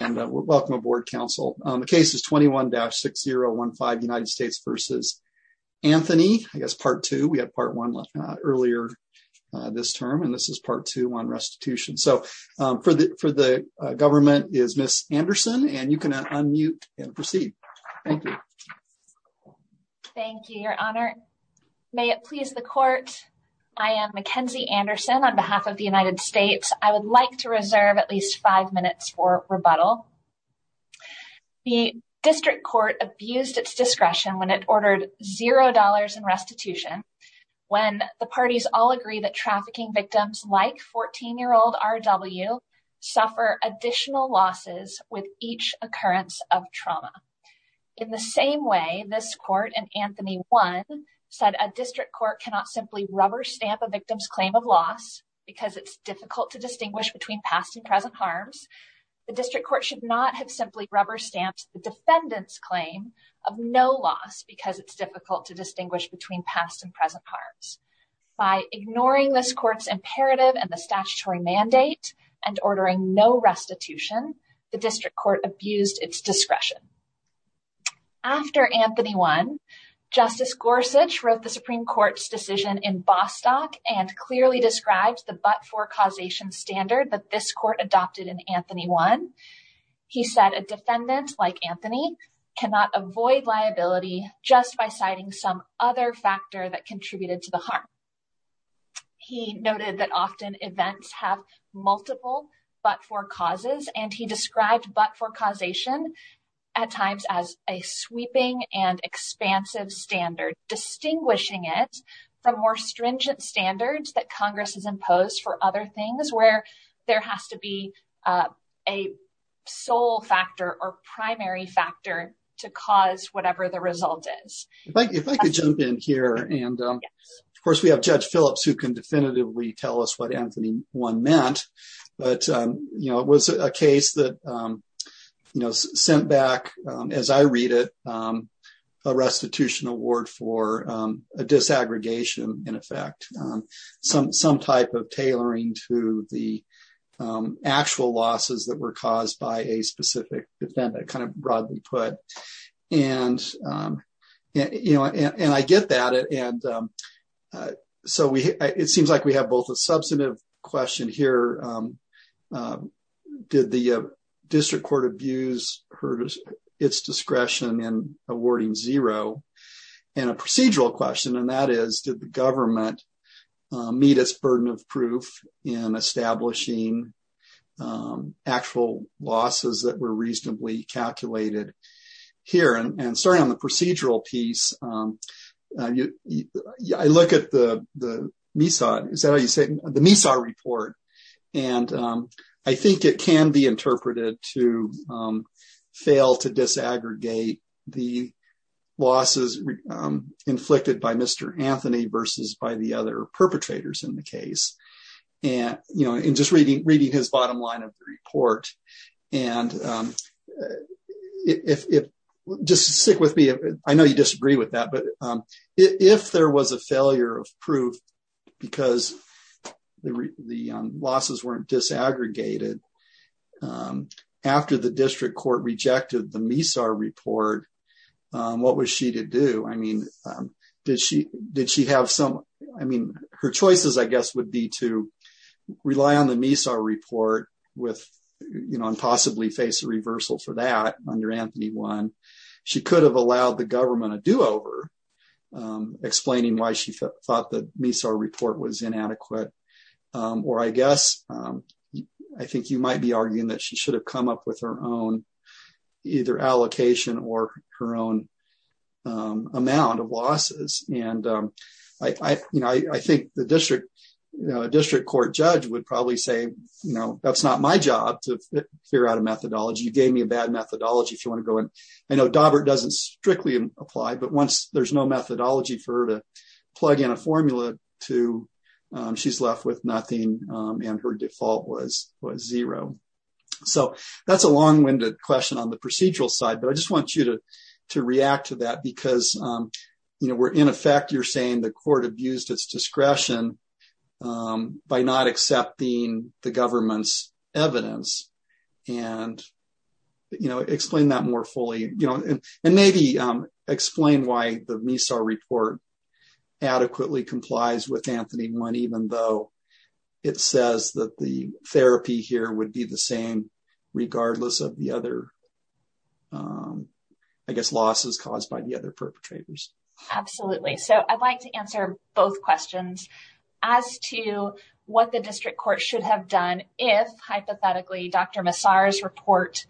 and welcome aboard Council. The case is 21-6015 United States v. Anthony, I guess Part 2. We had Part 1 earlier this term and this is Part 2 on restitution. So for the government is Miss Anderson and you can unmute and proceed. Thank you. Thank you, Your Honor. May it please the court. I am Mackenzie Anderson on behalf of the United States. I would like to reserve at least five minutes for rebuttal. The district court abused its discretion when it ordered zero dollars in restitution when the parties all agree that trafficking victims like 14-year-old R.W. suffer additional losses with each occurrence of trauma. In the same way, this court in Anthony 1 said a district court cannot simply rubber stamp a victim's claim of loss because it's difficult to distinguish between past and present harms. The district court should not have simply rubber stamped the defendant's claim of no loss because it's difficult to distinguish between past and present harms. By ignoring this court's imperative and the statutory mandate and ordering no restitution, the district court abused its discretion. After Anthony 1, Justice Gorsuch wrote the Supreme Court's decision in Bostock and clearly described the but-for causation standard that this court adopted in Anthony 1. He said a defendant like Anthony cannot avoid liability just by citing some other factor that contributed to the harm. He noted that often events have multiple but-for causes and he described but-for causation at times as a sweeping and expansive standard, distinguishing it from more stringent standards that Congress has imposed for other things where there has to be a sole factor or primary factor to cause whatever the result is. If I could jump in here and of course we have Judge Phillips who can definitively tell us what Anthony 1 meant, but you know it was a case that sent back, as I read it, a restitution award for a disaggregation in effect. Some type of tailoring to the actual losses that were caused by a specific defendant, kind of broadly put. And I get that and so it seems like we have both a substantive question here, did the district court abuse its discretion in awarding zero? And a procedural question and that is did the government meet its burden of proof in establishing actual losses that were reasonably calculated here? And starting on the procedural piece, I look at the MESA report and I think it can be interpreted to fail to disaggregate the losses inflicted by Mr. Anthony versus by the other just stick with me. I know you disagree with that, but if there was a failure of proof because the losses weren't disaggregated after the district court rejected the MESA report, what was she to do? I mean did she have some, I mean her choices I guess would be to rely on the report and possibly face a reversal for that under Anthony 1. She could have allowed the government a do-over explaining why she thought the MESA report was inadequate or I guess I think you might be arguing that she should have come up with her own either allocation or her own losses. And I think the district court judge would probably say that's not my job to figure out a methodology. You gave me a bad methodology if you want to go in. I know Dobbert doesn't strictly apply, but once there's no methodology for her to plug in a formula to she's left with nothing and her default was zero. So that's a long-winded question on the procedural side, I just want you to to react to that because you know we're in effect you're saying the court abused its discretion by not accepting the government's evidence. And you know explain that more fully you know and maybe explain why the MESA report adequately complies with Anthony 1 even though it says that the therapy here would be the same regardless of the other I guess losses caused by the other perpetrators. Absolutely. So I'd like to answer both questions as to what the district court should have done if hypothetically Dr. Massar's report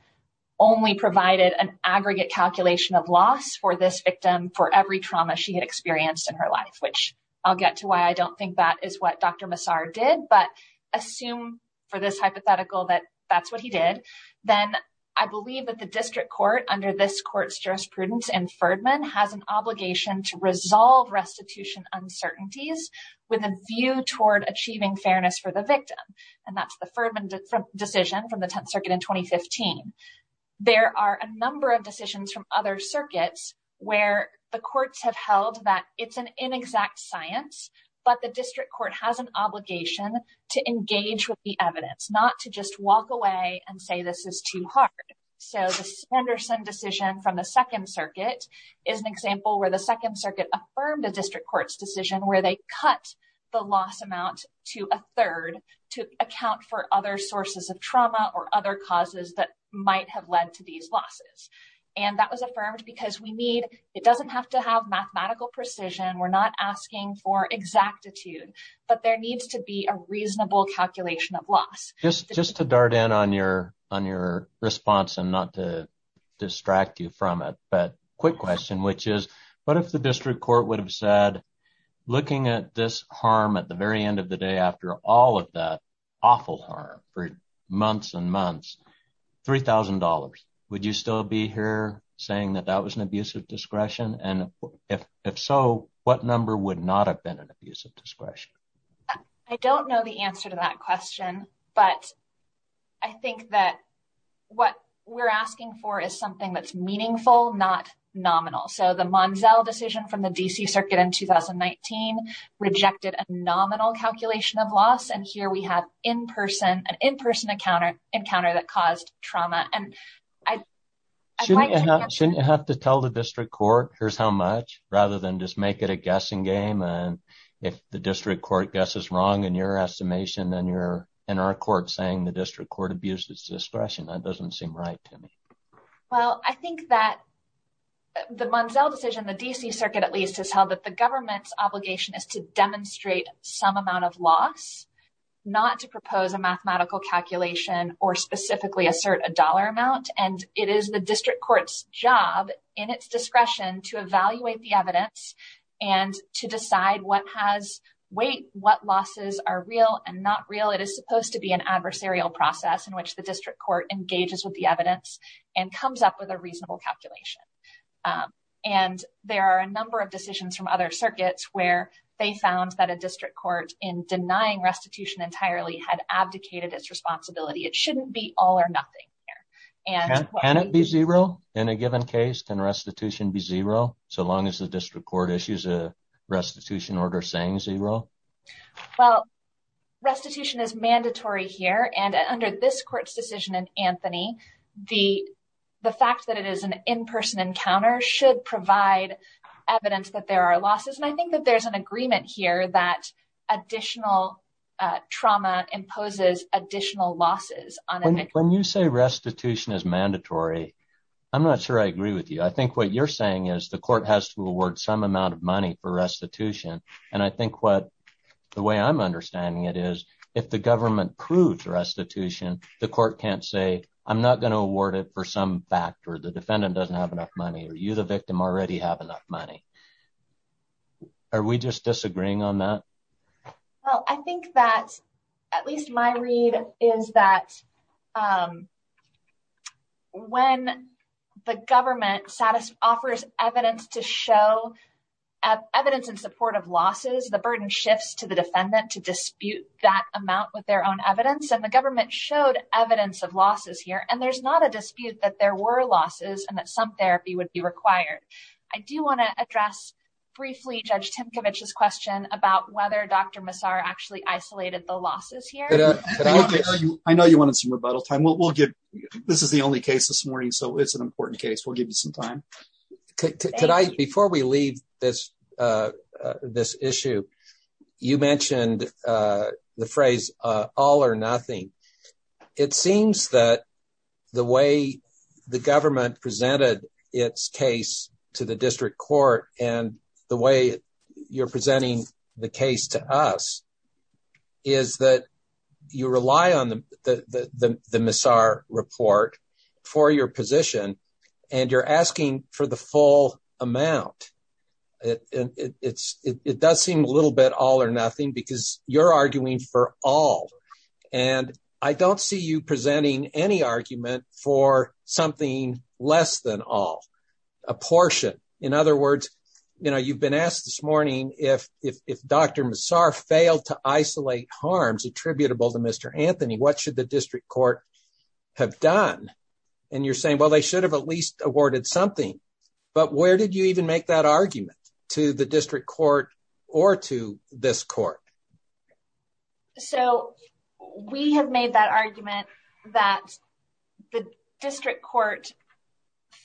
only provided an aggregate calculation of loss for this victim for every trauma she had experienced in her life. Which I'll get to why I don't think that is what Dr. Massar did, but assume for this hypothetical that that's what he did. Then I believe that the district court under this court's jurisprudence and Ferdman has an obligation to resolve restitution uncertainties with a view toward achieving fairness for the victim. And that's the Ferdman decision from the 10th circuit in 2015. There are a number of decisions from other circuits where the courts have held that it's an inexact science but the district court has an obligation to engage with the evidence not to just walk away and say this is too hard. So the Sanderson decision from the second circuit is an example where the second circuit affirmed a district court's decision where they cut the loss amount to a third to account for other sources of trauma or other causes that might have led to these losses. And that was affirmed because we need it doesn't have to we're not asking for exactitude but there needs to be a reasonable calculation of loss. Just to dart in on your response and not to distract you from it, but quick question which is what if the district court would have said looking at this harm at the very end of the day after all of that awful harm for months and months, $3,000 would you still be here saying that that was an abusive discretion? And if so what number would not have been an abusive discretion? I don't know the answer to that question but I think that what we're asking for is something that's meaningful not nominal. So the Monzel decision from the DC circuit in 2019 rejected a nominal calculation of loss and here we have an in-person encounter that caused trauma. Shouldn't you have to tell the district court here's how much rather than just make it a guessing game and if the district court guesses wrong in your estimation then you're in our court saying the district court abuses discretion that doesn't seem right to me. Well I think that the Monzel decision the DC circuit at least has held that the government's obligation is to demonstrate some amount of loss not to propose a mathematical calculation or specifically assert a dollar amount and it is the district court's job in its discretion to evaluate the evidence and to decide what has weight, what losses are real and not real. It is supposed to be an adversarial process in which the district court engages with the evidence and comes up with a reasonable calculation. And there are a number of decisions from other circuits where they found that a district court in denying restitution entirely had abdicated its responsibility it shouldn't be all or nothing. Can it be zero in a given case? Can restitution be zero so long as the district court issues a restitution order saying zero? Well restitution is mandatory here and under this court's decision in Anthony the fact that it is an in-person encounter should provide evidence that there are losses and I think that there's an agreement here that additional trauma imposes additional losses. When you say restitution is mandatory I'm not sure I agree with you. I think what you're saying is the court has to award some amount of money for restitution and I think what the way I'm understanding it is if the government proves restitution the court can't say I'm not going to award it for some factor the defendant doesn't have enough money or you the victim already have enough money. Are we just disagreeing on that? Well I think that at least my read is that when the government offers evidence to show evidence in support of losses the burden shifts to the defendant to dispute that amount with their own evidence and the government showed evidence of losses here and there's not a dispute that there were losses and that some therapy would be required. I do want to address briefly Judge Tinkovich's question about whether Dr. Massar actually isolated the losses here. I know you wanted some rebuttal time. This is the only case this morning so it's an important case we'll give you some time. Before we leave this issue you mentioned the phrase all or nothing. It seems that the way the government presented its case to the district court and the way you're presenting the case to us is that you rely on the Massar report for your position and you're asking for the full amount. It does seem a little bit all or nothing because you're arguing for all and I don't see you presenting any argument for something less than all, a portion. In other words you know you've been asked this morning if Dr. Massar failed to isolate harms attributable to Mr. Anthony what should the district court have done and you're saying well they should have at least awarded something but where did you even make that argument to the district court or to this court? So we have made that argument that the district court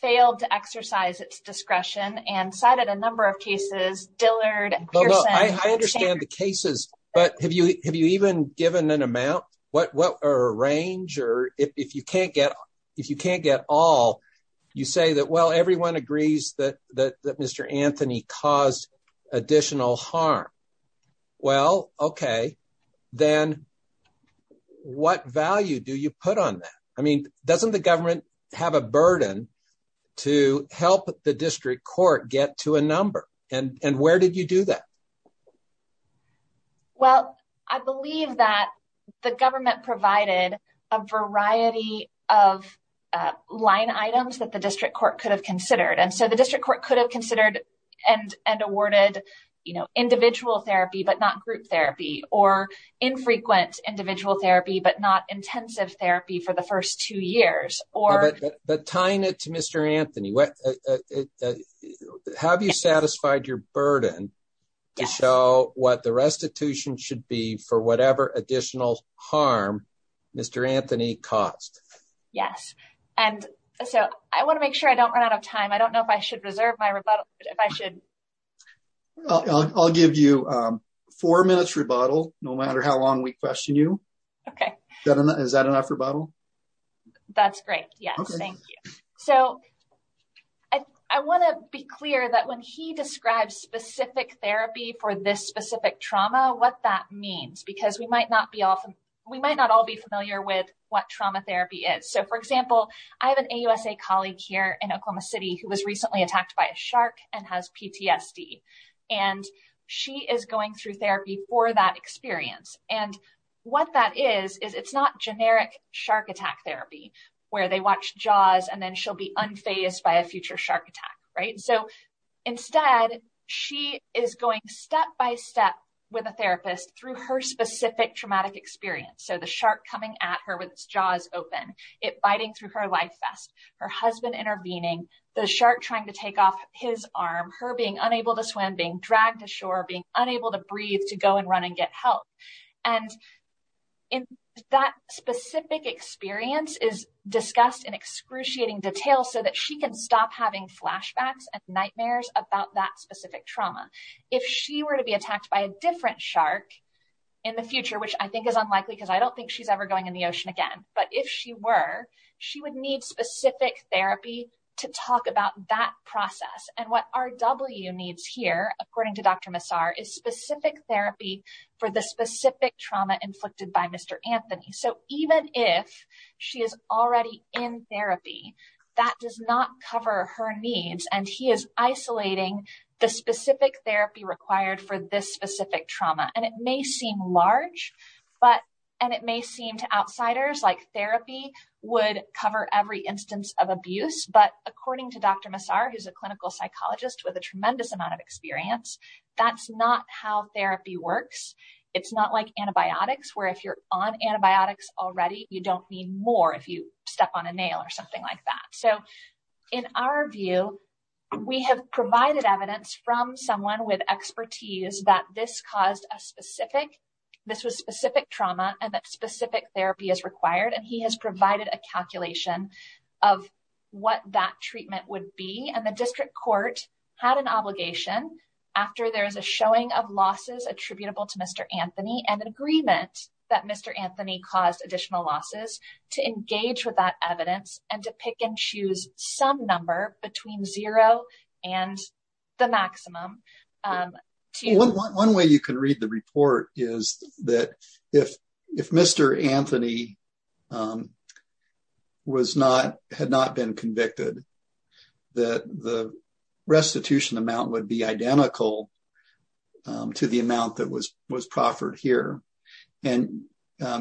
failed to exercise its discretion and cited a number of cases Dillard, Pearson. I understand the cases but have you have you even given an amount what what a range or if you can't get if you can't get all you say that well everyone agrees that that Mr. Anthony caused additional harm well okay then what value do you put on that? I mean doesn't the government have a burden to help the district court get to a number and and where did you do that? Well I believe that the government provided a variety of line items that the district court could have considered and so the district court could have considered and and awarded you know individual therapy but not group therapy or infrequent individual therapy but not intensive therapy for the first two years. But tying it to Mr. Anthony, have you satisfied your burden to show what the restitution should be for whatever additional harm Mr. Anthony caused? Yes and so I want to make sure I don't run out of time. I don't know if I should reserve my rebuttal if I should. I'll give you four minutes rebuttal no matter how long we question you. Okay. Is that enough rebuttal? That's great yes thank you. So I want to be clear that when he describes specific therapy for this specific trauma what that means because we might not be often we might not all be familiar with what trauma therapy is. So for example I have an AUSA colleague here in Oklahoma City who was recently attacked by a shark and has PTSD and she is going through therapy for that experience and what that is is it's not generic shark attack therapy where they watch jaws and then she'll be unfazed by a future shark attack right. So instead she is going step by step with a therapist through her specific traumatic experience. So the shark coming at her with its jaws open, it biting through her life vest, her husband intervening, the shark trying to take off his arm, her being unable to swim, being dragged ashore, being unable to breathe to go and run and get help. And in that specific experience is discussed in excruciating detail so that she can stop having flashbacks and nightmares about that specific trauma. If she were to be attacked by a different shark in the future, which I think is unlikely because I don't think she's ever going in the ocean again, but if she were she would need specific therapy to talk about that process. And what RW needs here according to Dr. Massar is specific therapy for the specific trauma inflicted by Mr. Anthony. So even if she is already in therapy that does not cover her needs and he is isolating the specific therapy required for this specific trauma. And it may seem large but and it may seem to outsiders like therapy would cover every instance of abuse but according to Dr. Massar who's a clinical psychologist with a tremendous amount of experience, that's not how therapy works. It's not like antibiotics where if you're on antibiotics already you don't need more if you step on a nail or something like that. So in our view we have provided evidence from someone with expertise that this caused a specific, this was specific trauma and that specific therapy is required and he has provided a calculation of what that treatment would be and the district court had an obligation after there is a showing of losses attributable to Mr. Anthony and an agreement that Mr. Anthony caused additional losses to engage with that evidence and to pick and choose some number between zero and the maximum. One way you can that the restitution amount would be identical to the amount that was was proffered here and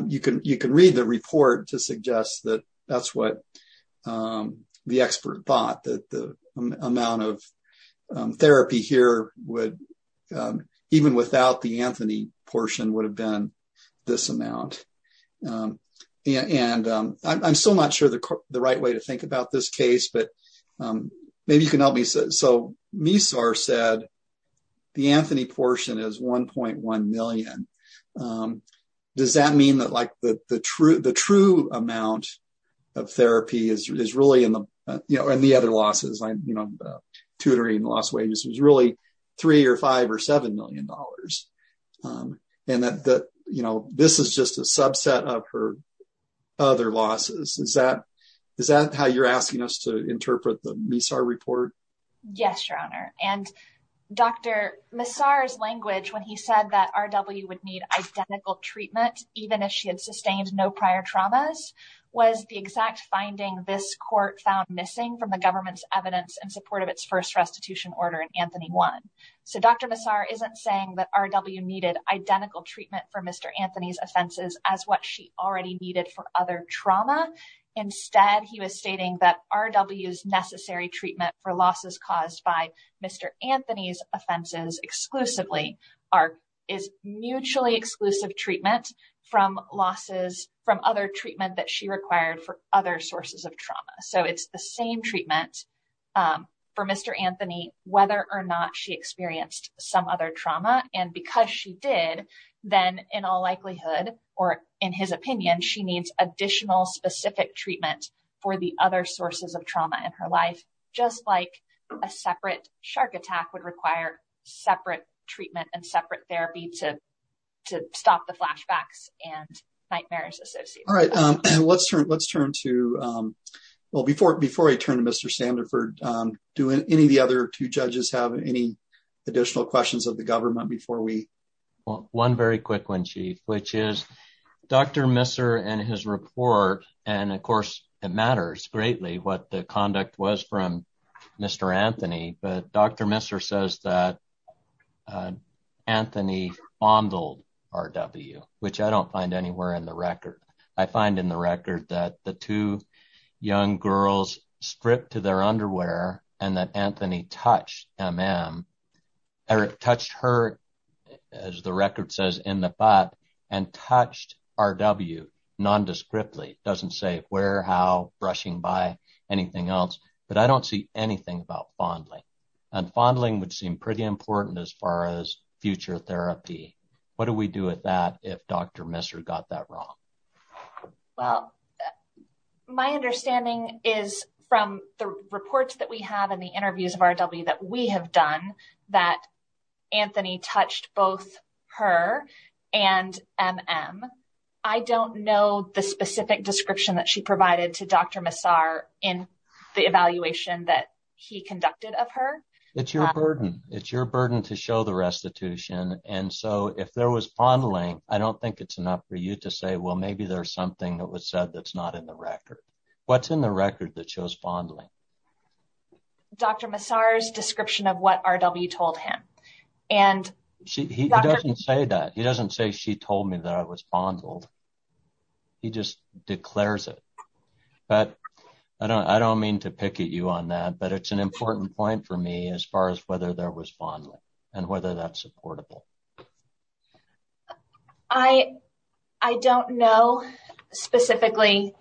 you can you can read the report to suggest that that's what the expert thought that the amount of therapy here would even without the Anthony portion would have been this amount. And I'm still not sure the right way to think about this case but maybe you can help me. So Massar said the Anthony portion is 1.1 million. Does that mean that like the true amount of therapy is really in the you know and the other losses like you know tutoring and lost wages was really three or five or seven million dollars. And that you know this is just a subset of her other losses. Is that how you're asking us to interpret the Massar report? Yes your honor and Dr. Massar's language when he said that RW would need identical treatment even if she had sustained no prior traumas was the exact finding this court found missing from the government's evidence in support of its first order in Anthony 1. So Dr. Massar isn't saying that RW needed identical treatment for Mr. Anthony's offenses as what she already needed for other trauma. Instead he was stating that RW's necessary treatment for losses caused by Mr. Anthony's offenses exclusively are is mutually exclusive treatment from losses from other treatment that she required for other sources of trauma. So it's the same treatment for Mr. Anthony whether or not she experienced some other trauma and because she did then in all likelihood or in his opinion she needs additional specific treatment for the other sources of trauma in her life just like a separate shark attack would require separate treatment and separate therapy to to stop the flashbacks and nightmares. All right let's turn let's turn to well before before I turn to Mr. Sandiford do any of the other two judges have any additional questions of the government before we well one very quick one chief which is Dr. Massar and his report and of course it matters greatly what the conduct was from Mr. Anthony but Dr. Massar says that Anthony fondled RW which I don't find anywhere in the record. I find in the record that the two young girls stripped to their underwear and that Anthony touched MM or touched her as the record says in the butt and touched RW non-descriptly doesn't say where how brushing by anything else but I don't see anything about fondling and fondling would seem pretty important as far as future therapy. What do we do with that if Dr. Massar got that wrong? Well my understanding is from the reports that we have in the interviews of RW that we have done that Anthony touched both her and MM. I don't know the specific description that she provided to Dr. Massar in the evaluation that he conducted of her. It's your burden it's your for you to say well maybe there's something that was said that's not in the record. What's in the record that shows fondling? Dr. Massar's description of what RW told him and he doesn't say that he doesn't say she told me that I was fondled he just declares it but I don't I don't mean to picket you on that but it's an important point for me as far as whether there was fondling and whether that's supportable. I don't know specifically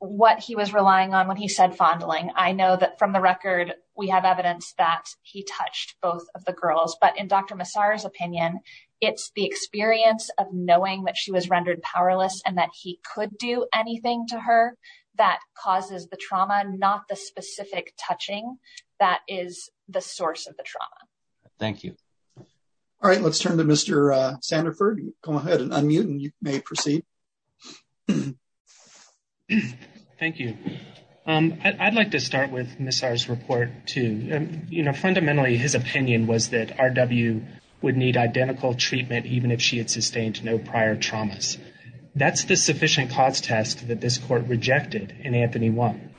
what he was relying on when he said fondling. I know that from the record we have evidence that he touched both of the girls but in Dr. Massar's opinion it's the experience of knowing that she was rendered powerless and that he could do anything to her that causes the trauma not the specific touching that is the source of the trauma. Thank you. All right let's turn to Mr. Sanderford. Go ahead and unmute and you may proceed. Thank you. I'd like to start with Ms. Massar's report too. You know fundamentally his opinion was that RW would need identical treatment even if she had sustained no prior traumas. That's the sufficient cause test that this court rejected in Anthony 1.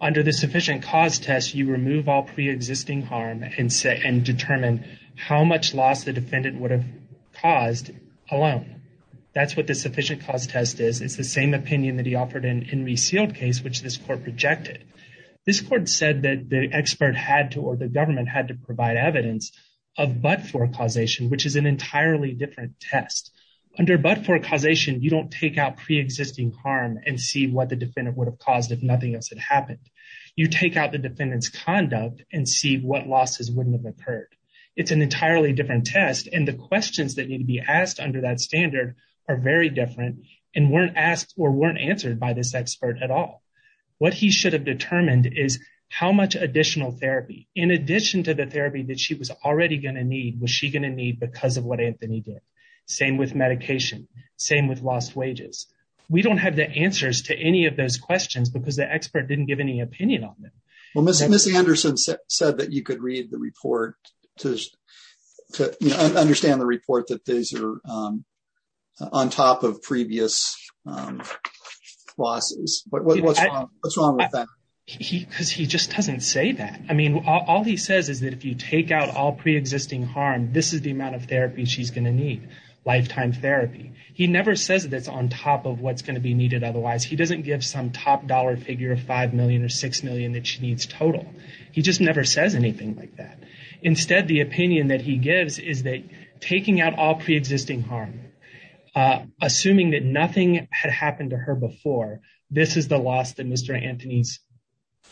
Under the sufficient cause test you remove all pre-existing harm and say and determine how much loss the defendant would have caused alone. That's what the sufficient cause test is. It's the same opinion that he offered in in resealed case which this court rejected. This court said that the expert had to or the government had to provide evidence of but-for causation which is an entirely different test. Under but-for causation you don't take out pre-existing harm and see what the defendant would have caused if nothing else had happened. You take out the defendant's conduct and see what losses wouldn't have occurred. It's an entirely different test and the questions that need to be asked under that standard are very different and weren't asked or weren't answered by this expert at all. What he should have determined is how much additional therapy in addition to the therapy that she was already going to need was she going to need because of what Anthony did. Same with medication. Same with lost wages. We don't have the answers to any of those questions because the expert didn't give any opinion on them. Well Mr. Anderson said that you could read the report to understand the report that these are on top of previous losses. Because he just doesn't say that. I mean all he says is that if you take out all pre-existing harm this is the amount of therapy she's going to need. Lifetime therapy. He never says that's on top of what's going to be needed otherwise. He doesn't give some top dollar figure of five million or six million that she needs total. He just never says anything like that. Instead the opinion that he gives is that taking out all pre-existing harm, assuming that nothing had happened to her before, this is the loss that Mr. Anthony's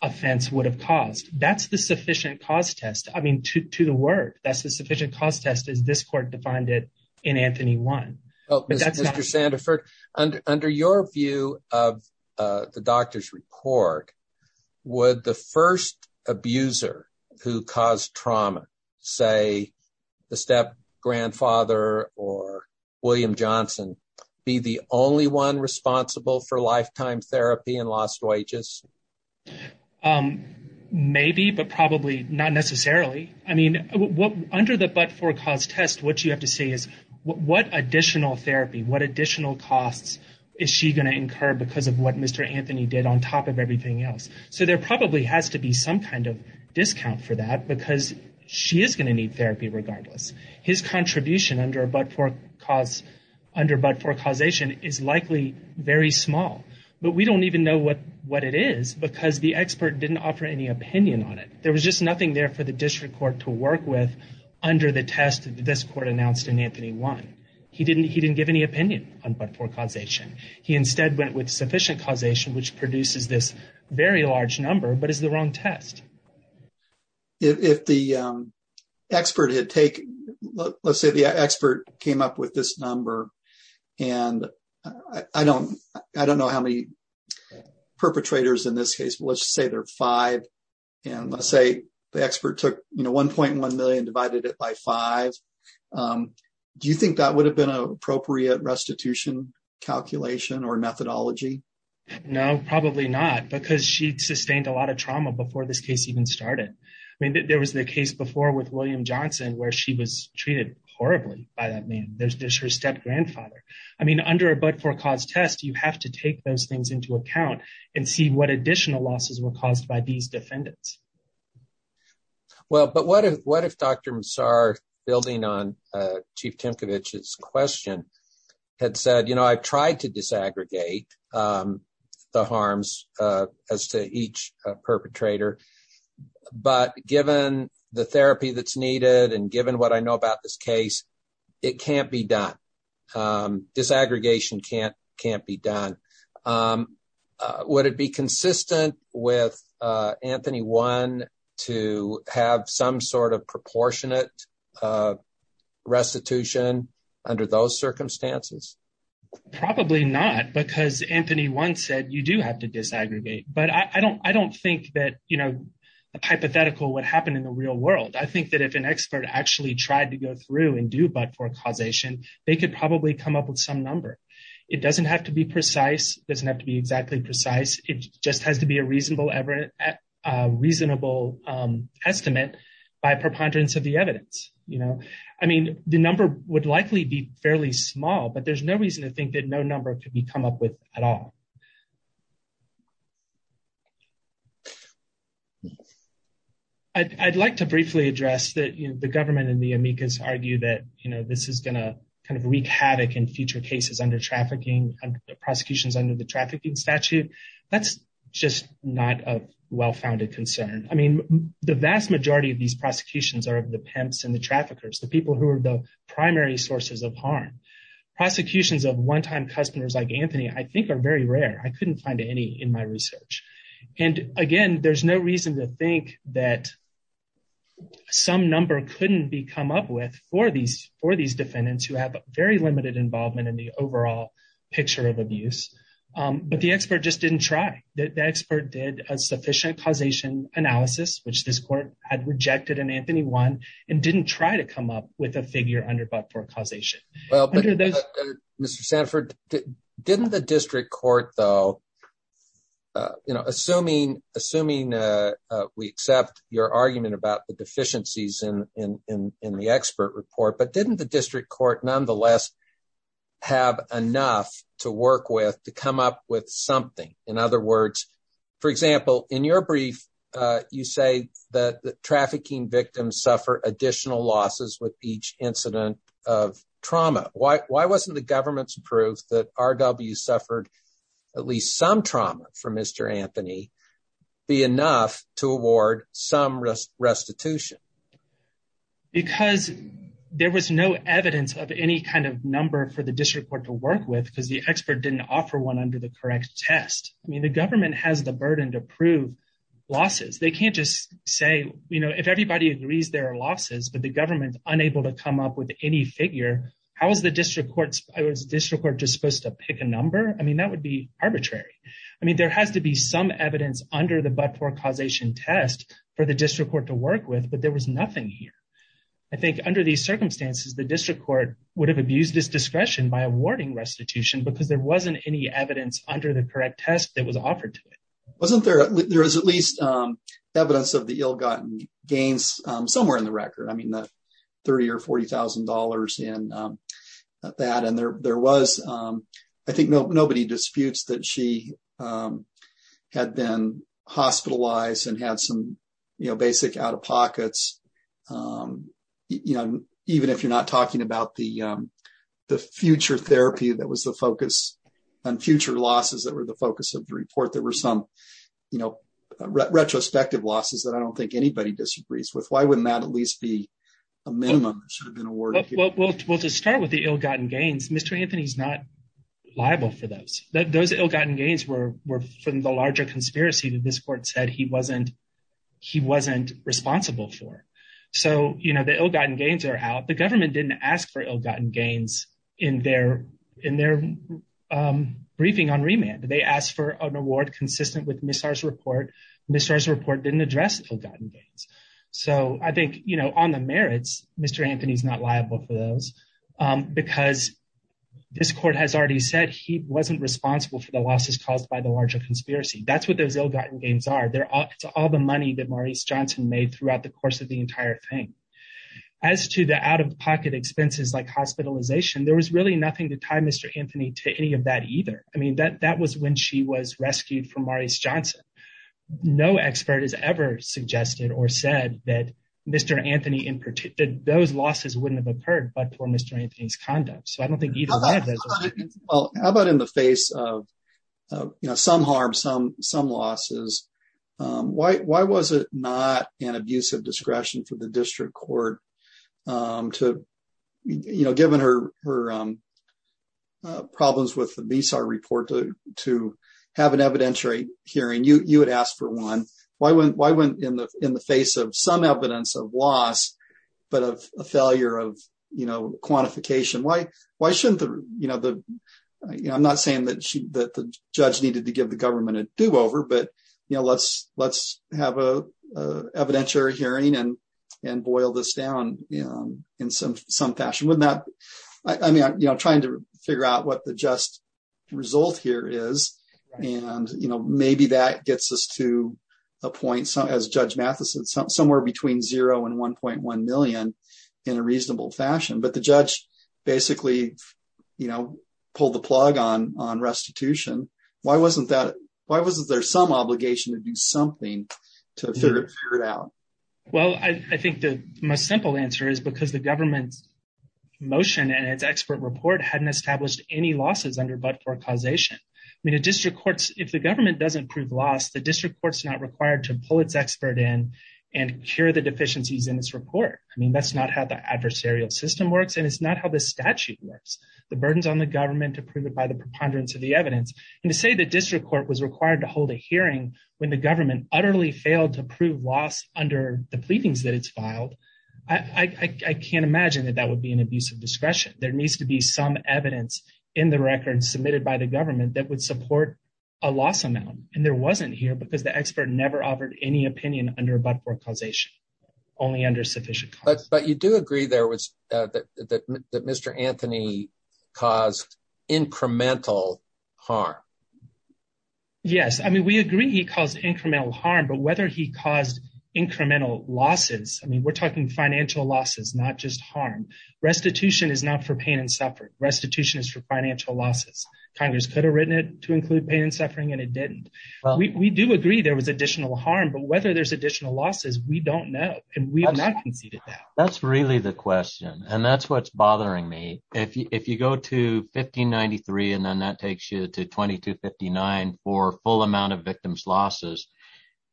offense would have caused. That's the sufficient cause test as this court defined it in Anthony 1. Under your view of the doctor's report, would the first abuser who caused trauma, say the step grandfather or William Johnson, be the only one responsible for lifetime therapy and lost wages? Maybe, but probably not necessarily. I mean, under the but-for-cause test what you have to say is what additional therapy, what additional costs is she going to incur because of what Mr. Anthony did on top of everything else. So there probably has to be some kind of discount for that because she is going to need therapy regardless. His contribution under but-for-causation is likely very small, but we don't even know what what it is because the expert didn't offer any opinion on it. There was just nothing there for the district court to work with under the test this court announced in Anthony 1. He didn't give any opinion on but-for-causation. He instead went with sufficient causation, which produces this very large number but is the wrong test. If the expert had taken, let's say the expert came up with this number and I don't know how many perpetrators in this case, but let's say there are five and let's say the expert took 1.1 million and divided it by five. Do you think that would have been an appropriate restitution calculation or methodology? No, probably not because she sustained a lot of trauma before this case even started. I mean there was the case before with William Johnson where she was treated horribly by that man. There's her step-grandfather. I mean under a but-for-cause test you have to take those things into account and see what additional losses were caused by these defendants. Well, but what if what if Dr. Massar building on Chief Timkovich's question had said, you know, I've tried to disaggregate the harms as to each perpetrator, but given the therapy that's needed and given what I know about this case, it can't be done. Disaggregation can't be done. Would it be consistent with Anthony 1 to have some sort proportionate restitution under those circumstances? Probably not because Anthony 1 said you do have to disaggregate, but I don't think that, you know, the hypothetical would happen in the real world. I think that if an expert actually tried to go through and do but-for-causation, they could probably come up with some number. It doesn't have to be precise. It doesn't have to be exactly precise. It just has to be a reasonable estimate by preponderance of the evidence, you know. I mean, the number would likely be fairly small, but there's no reason to think that no number could be come up with at all. I'd like to briefly address that, you know, the government and the amicus argue that, you know, this is going to kind of wreak havoc in future cases under trafficking, prosecutions under the trafficking statute. That's just not a well-founded concern. I mean, the vast majority of these prosecutions are of the pimps and the traffickers, the people who are the primary sources of harm. Prosecutions of one-time customers like Anthony, I think, are very rare. I couldn't find any in my research. And again, there's no reason to think that some number couldn't be come up with for these defendants who have very limited involvement in the overall picture of abuse, but the expert just didn't try. The expert did a sufficient causation analysis, which this court had rejected in Anthony 1, and didn't try to come up with a figure under but-for causation. Well, Mr. Sanford, didn't the district court, though, you know, assuming we accept your argument about the deficiencies in the expert report, but didn't the district court nonetheless have enough to work with to come up with something? In other words, for example, in your brief, you say that the trafficking victims suffer additional losses with each incident of trauma. Why wasn't the government's proof that R.W. suffered at least some trauma from Mr. Anthony be enough to award some restitution? Because there was no evidence of any kind of number for the district court to work with, because the expert didn't offer one under the correct test. I mean, the government has the burden to prove losses. They can't just say, you know, if everybody agrees there are losses, but the government's unable to come up with any figure, how is the district court, was the district court just supposed to pick a number? I mean, that would be arbitrary. I mean, there has to be some evidence under the but-for causation test for the district court to work with, but there was nothing here. I think under these circumstances, the district court would have abused its discretion by awarding restitution because there wasn't any evidence under the correct test that was offered to it. Wasn't there, there was at least evidence of the ill-gotten gains somewhere in the record. I mean, the 30 or 40 thousand dollars in that, and there was, I think nobody disputes that she had been hospitalized and had some, you know, basic out-of-pockets, you know, even if you're talking about the future therapy that was the focus on future losses that were the focus of the report, there were some, you know, retrospective losses that I don't think anybody disagrees with. Why wouldn't that at least be a minimum that should have been awarded? Well, to start with the ill-gotten gains, Mr. Anthony's not liable for those. Those ill-gotten gains were from the larger conspiracy that this court said he wasn't responsible for. So, you know, the ill-gotten gains are out. The government didn't ask for ill-gotten gains in their briefing on remand. They asked for an award consistent with Ms. R's report. Ms. R's report didn't address ill-gotten gains. So, I think, you know, on the merits, Mr. Anthony's not liable for those because this court has already said he wasn't responsible for the losses caused by the larger conspiracy. That's what those ill-gotten gains are. They're all the money that Maurice Johnson made throughout the course of the entire thing. As to the out-of-pocket expenses, like hospitalization, there was really nothing to tie Mr. Anthony to any of that either. I mean, that was when she was rescued from Maurice Johnson. No expert has ever suggested or said that Mr. Anthony, in particular, those losses wouldn't have occurred but for Mr. Anthony's conduct. So, I don't think either one of those... Well, how about in the face of, you know, some harm, some losses, why was it not an abuse of discretion for the district court to, you know, given her problems with the Ms. R report to have an evidentiary hearing? You had asked for one. Why went in the face of some evidence of loss but of a failure of, you know, quantification? Why but, you know, let's have an evidentiary hearing and boil this down in some fashion. I mean, you know, trying to figure out what the just result here is and, you know, maybe that gets us to a point, as Judge Mathison said, somewhere between zero and 1.1 million in a reasonable fashion. But the judge basically, you know, pulled the plug on restitution. Why wasn't there some obligation to do something to figure it out? Well, I think the most simple answer is because the government's motion and its expert report hadn't established any losses under but-for causation. I mean, if the government doesn't prove loss, the district court's not required to pull its expert in and cure the deficiencies in this report. I mean, that's not how the adversarial system works, and it's not how the statute works. The burden's on the government to prove it by the preponderance of the evidence. And to say the district court was required to hold a hearing when the government utterly failed to prove loss under the pleadings that it's filed, I can't imagine that that would be an abuse of discretion. There needs to be some evidence in the record submitted by the government that would support a loss amount, and there wasn't here because the expert never offered any opinion under but-for causation, only under sufficient But you do agree there that Mr. Anthony caused incremental harm. Yes, I mean, we agree he caused incremental harm, but whether he caused incremental losses, I mean, we're talking financial losses, not just harm. Restitution is not for pain and suffering. Restitution is for financial losses. Congress could have written it to include pain and suffering, and it didn't. We do agree there was additional harm, but whether there's additional losses, we don't know, and we have not conceded That's really the question, and that's what's bothering me. If you go to 1593, and then that takes you to 2259 for full amount of victims' losses,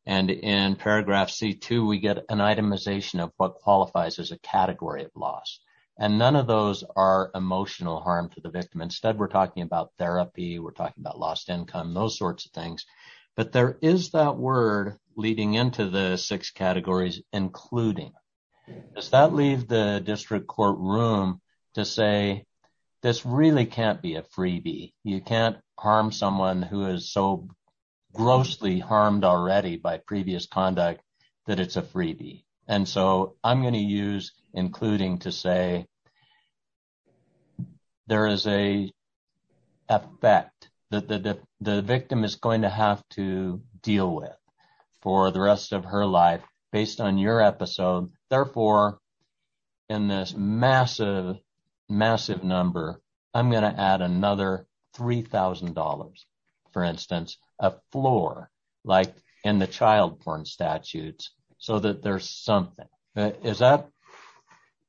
and in paragraph C2, we get an itemization of what qualifies as a category of loss, and none of those are emotional harm to the victim. Instead, we're talking about therapy, we're talking about lost income, those sorts of things, but there is that word leading into the six categories, including. Does that leave the district court room to say this really can't be a freebie? You can't harm someone who is so grossly harmed already by previous conduct that it's a freebie, and so I'm going to use including to say there is an effect that the victim is going to have to deal with for the rest of her life based on your episode. Therefore, in this massive, massive number, I'm going to add another $3,000, for instance, a floor, like in the child porn statutes, so that there's something. Is that,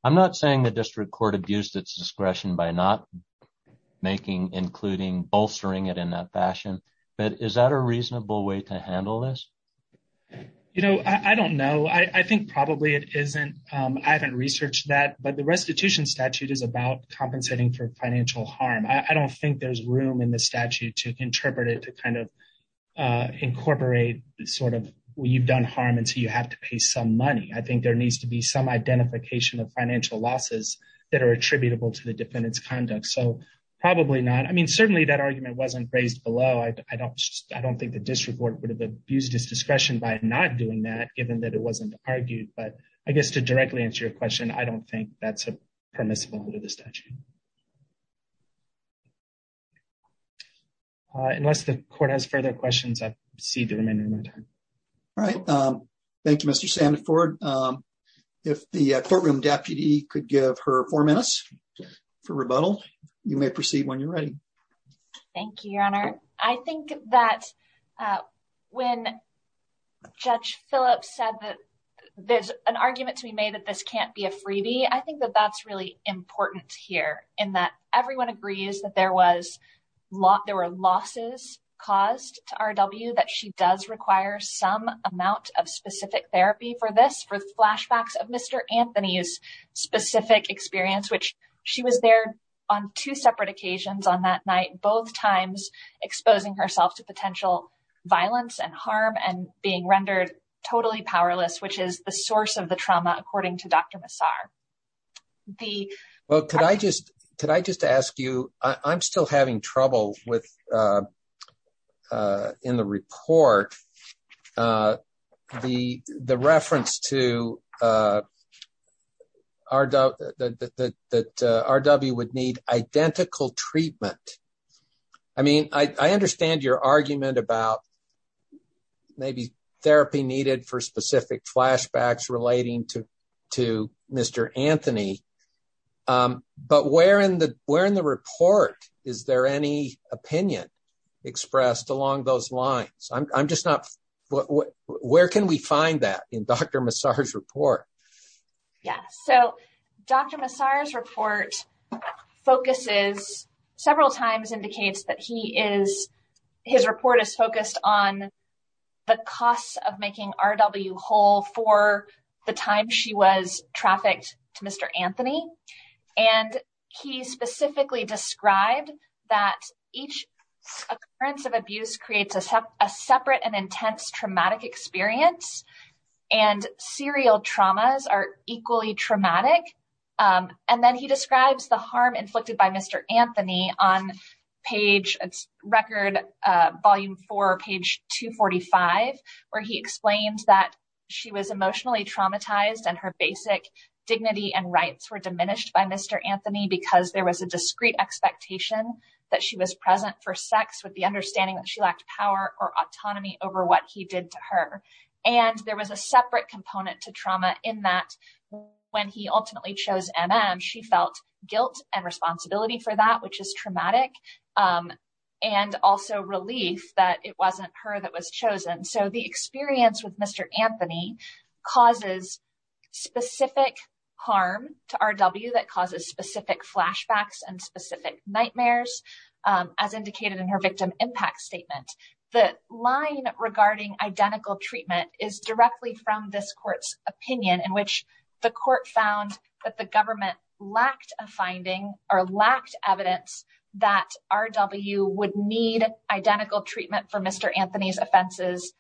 I'm not saying the district court abused its discretion by not making including, bolstering it in that fashion, but is that a reasonable way to handle this? You know, I don't know. I think probably it isn't. I haven't researched that, but the restitution statute is about compensating for financial harm. I don't think there's room in the statute to interpret it to kind of incorporate sort of, well, you've done harm until you have to pay some money. I think there needs to be some identification of financial losses that are attributable to the defendant's conduct, so probably not. I mean, certainly that argument wasn't raised below. I don't think the district court would have abused its discretion by not doing that, given that it wasn't argued, but I guess to directly answer your question, I don't think that's permissible under the statute. Unless the court has further questions, I proceed to remain in my time. All right. Thank you, Mr. Sanford. If the courtroom deputy could give her four minutes for rebuttal, you may proceed when you're ready. Thank you, Your Honor. I think that when Judge Phillips said that there's an argument to be made that this can't be a freebie, I think that that's really important here, in that everyone agrees that there were losses caused to R.W., that she does require some amount of specific therapy for this, for flashbacks of Mr. Anthony's specific experience, which she was there on two separate occasions on that night, both times exposing herself to potential violence and harm and being rendered totally powerless, which is the source of the trauma, according to Dr. Massar. Well, could I just ask you, I'm still having trouble with, in the report, the reference to that R.W. would need identical treatment. I mean, I understand your argument about maybe therapy needed for specific flashbacks relating to Mr. Anthony, but where in the report is there any opinion expressed along those lines? Where can we find that in Dr. Massar's report? Yeah, so Dr. Massar's report focuses, several times indicates that his report is focused on the costs of making R.W. whole for the time she was trafficked to Mr. Anthony, and he specifically described that each occurrence of abuse creates a separate and intense traumatic experience and serial traumas are equally traumatic. And then he describes the harm inflicted by Mr. Anthony on page, record, volume four, page 245, where he explained that she was emotionally traumatized and her basic dignity and rights were diminished by Mr. Anthony because there was a discrete expectation that she was present for sex with the understanding that she lacked power or autonomy over what he did to her. And there was a separate component to trauma in that when he ultimately chose M.M., she felt guilt and responsibility for that, which is traumatic, and also relief that it wasn't her that was chosen. So the experience with Mr. Anthony causes specific harm to R.W. that causes specific flashbacks and specific nightmares, as indicated in her victim impact statement. The line regarding identical treatment is directly from this court's opinion in which the court found that the government lacked a finding or lacked evidence that R.W. would need identical treatment for Mr. Anthony's offenses,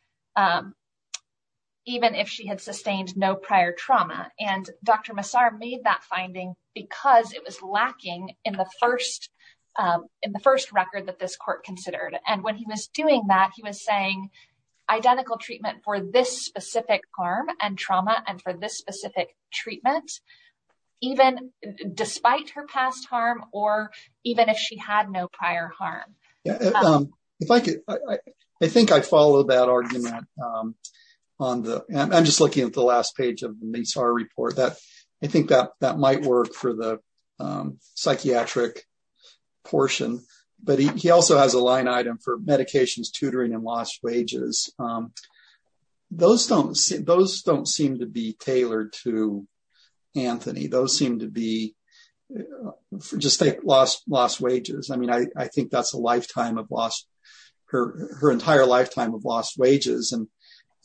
even if she had sustained no prior trauma. And Dr. Massar made that finding because it was lacking in the first record that this court considered. And when he was doing that, he was saying identical treatment for this specific harm and trauma and for this specific treatment, even despite her past harm or even if she had no prior harm. If I could, I think I followed that argument on the, I'm just looking at the last page of Massar's report. I think that might work for the psychiatric portion. But he also has a line item for medications, tutoring, and lost wages. Those don't seem to be tailored to Anthony. Those seem to be just like lost wages. I mean, I think that's a lifetime of lost, her entire lifetime of lost wages.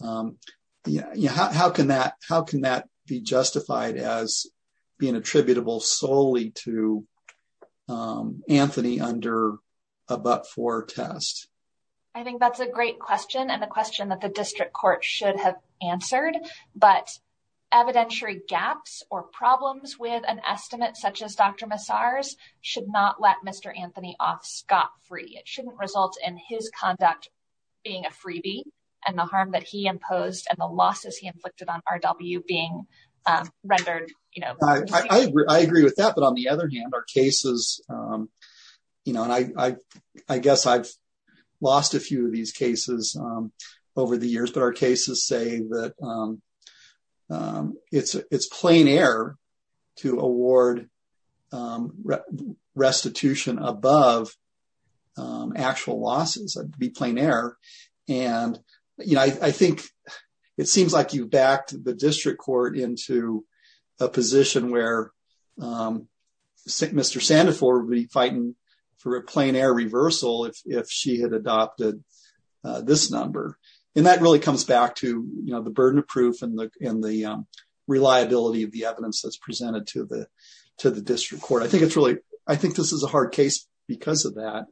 How can that be justified as being attributable solely to Anthony under a but-for test? I think that's a great question and a question that the district court should have answered. But evidentiary gaps or problems with an estimate such as Dr. Massar's should not let Anthony off scot-free. It shouldn't result in his conduct being a freebie and the harm that he imposed and the losses he inflicted on RW being rendered. I agree with that. But on the other hand, our cases, and I guess I've lost a few of these cases over the years, but our cases say that it's plain error to award restitution above actual losses. It'd be plain error. It seems like you've backed the district court into a position where Mr. Sandefur would be fighting for a plain error reversal if she had adopted this number. That really comes back to the burden of proof and the reliability of the evidence that's presented to the district court. I think this is a hard case because of that.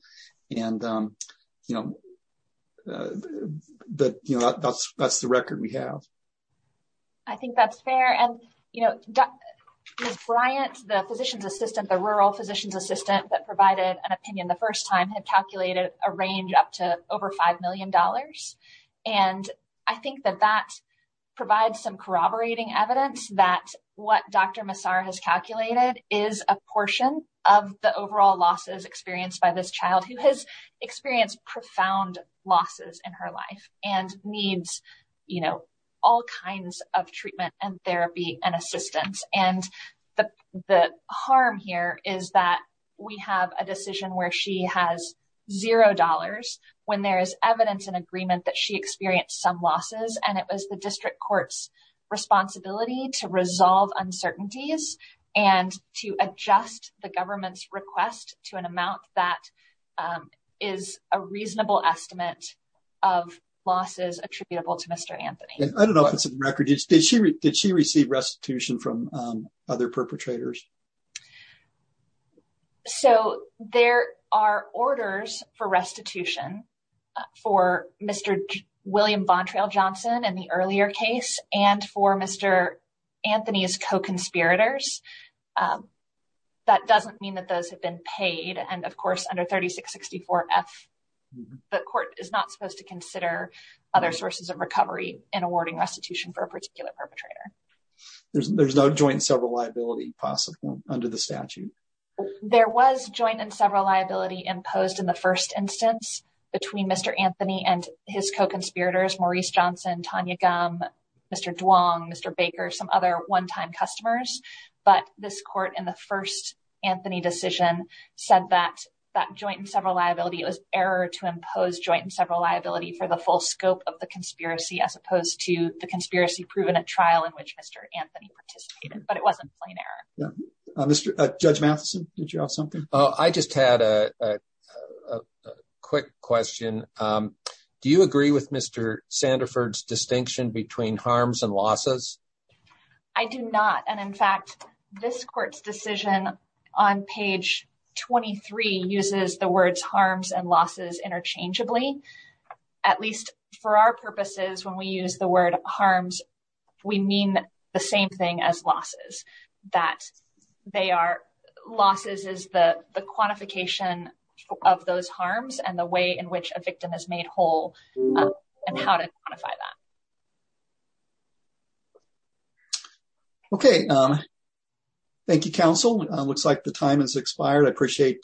That's the record we have. I think that's fair. Ms. Bryant, the rural physician's assistant that provided an opinion had calculated a range up to over $5 million. I think that that provides some corroborating evidence that what Dr. Massar has calculated is a portion of the overall losses experienced by this child who has experienced profound losses in her life and needs all kinds of treatment and therapy and assistance. The harm here is that we have a decision where she has zero dollars when there is evidence and agreement that she experienced some losses. It was the district court's responsibility to resolve uncertainties and to adjust the government's request to an amount that is a reasonable estimate of losses attributable to Mr. Anthony. I don't know if did she receive restitution from other perpetrators? So there are orders for restitution for Mr. William Bontrail Johnson in the earlier case and for Mr. Anthony's co-conspirators. That doesn't mean that those have been paid. Of course, under 3664 F, the court is not supposed to consider other sources of recovery in awarding restitution for a particular perpetrator. There's no joint and several liability possible under the statute? There was joint and several liability imposed in the first instance between Mr. Anthony and his co-conspirators, Maurice Johnson, Tanya Gumm, Mr. Duong, Mr. Baker, some other one-time customers. But this court in the first Anthony decision said that that joint and several liability was error to impose joint and several liability for the full scope of the conspiracy as opposed to the conspiracy proven at trial in which Mr. Anthony participated. But it wasn't plain error. Judge Matheson, did you have something? I just had a quick question. Do you agree with Mr. Sandiford's distinction between harms and losses? I do not. And in fact, this court's decision on page 23 uses the words harms and losses interchangeably. At least for our purposes, when we use the word harms, we mean the same thing as losses, that they are losses is the same thing as losses. So, I don't know if that makes sense. I don't know how to quantify that. Okay. Thank you, counsel. It looks like the time has expired. I appreciate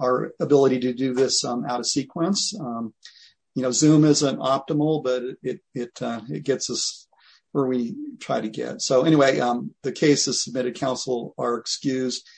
our ability to do this out of sequence. You know, Zoom isn't optimal, but it gets us where we try to get. So, anyway, the case is submitted. Counsel are excused.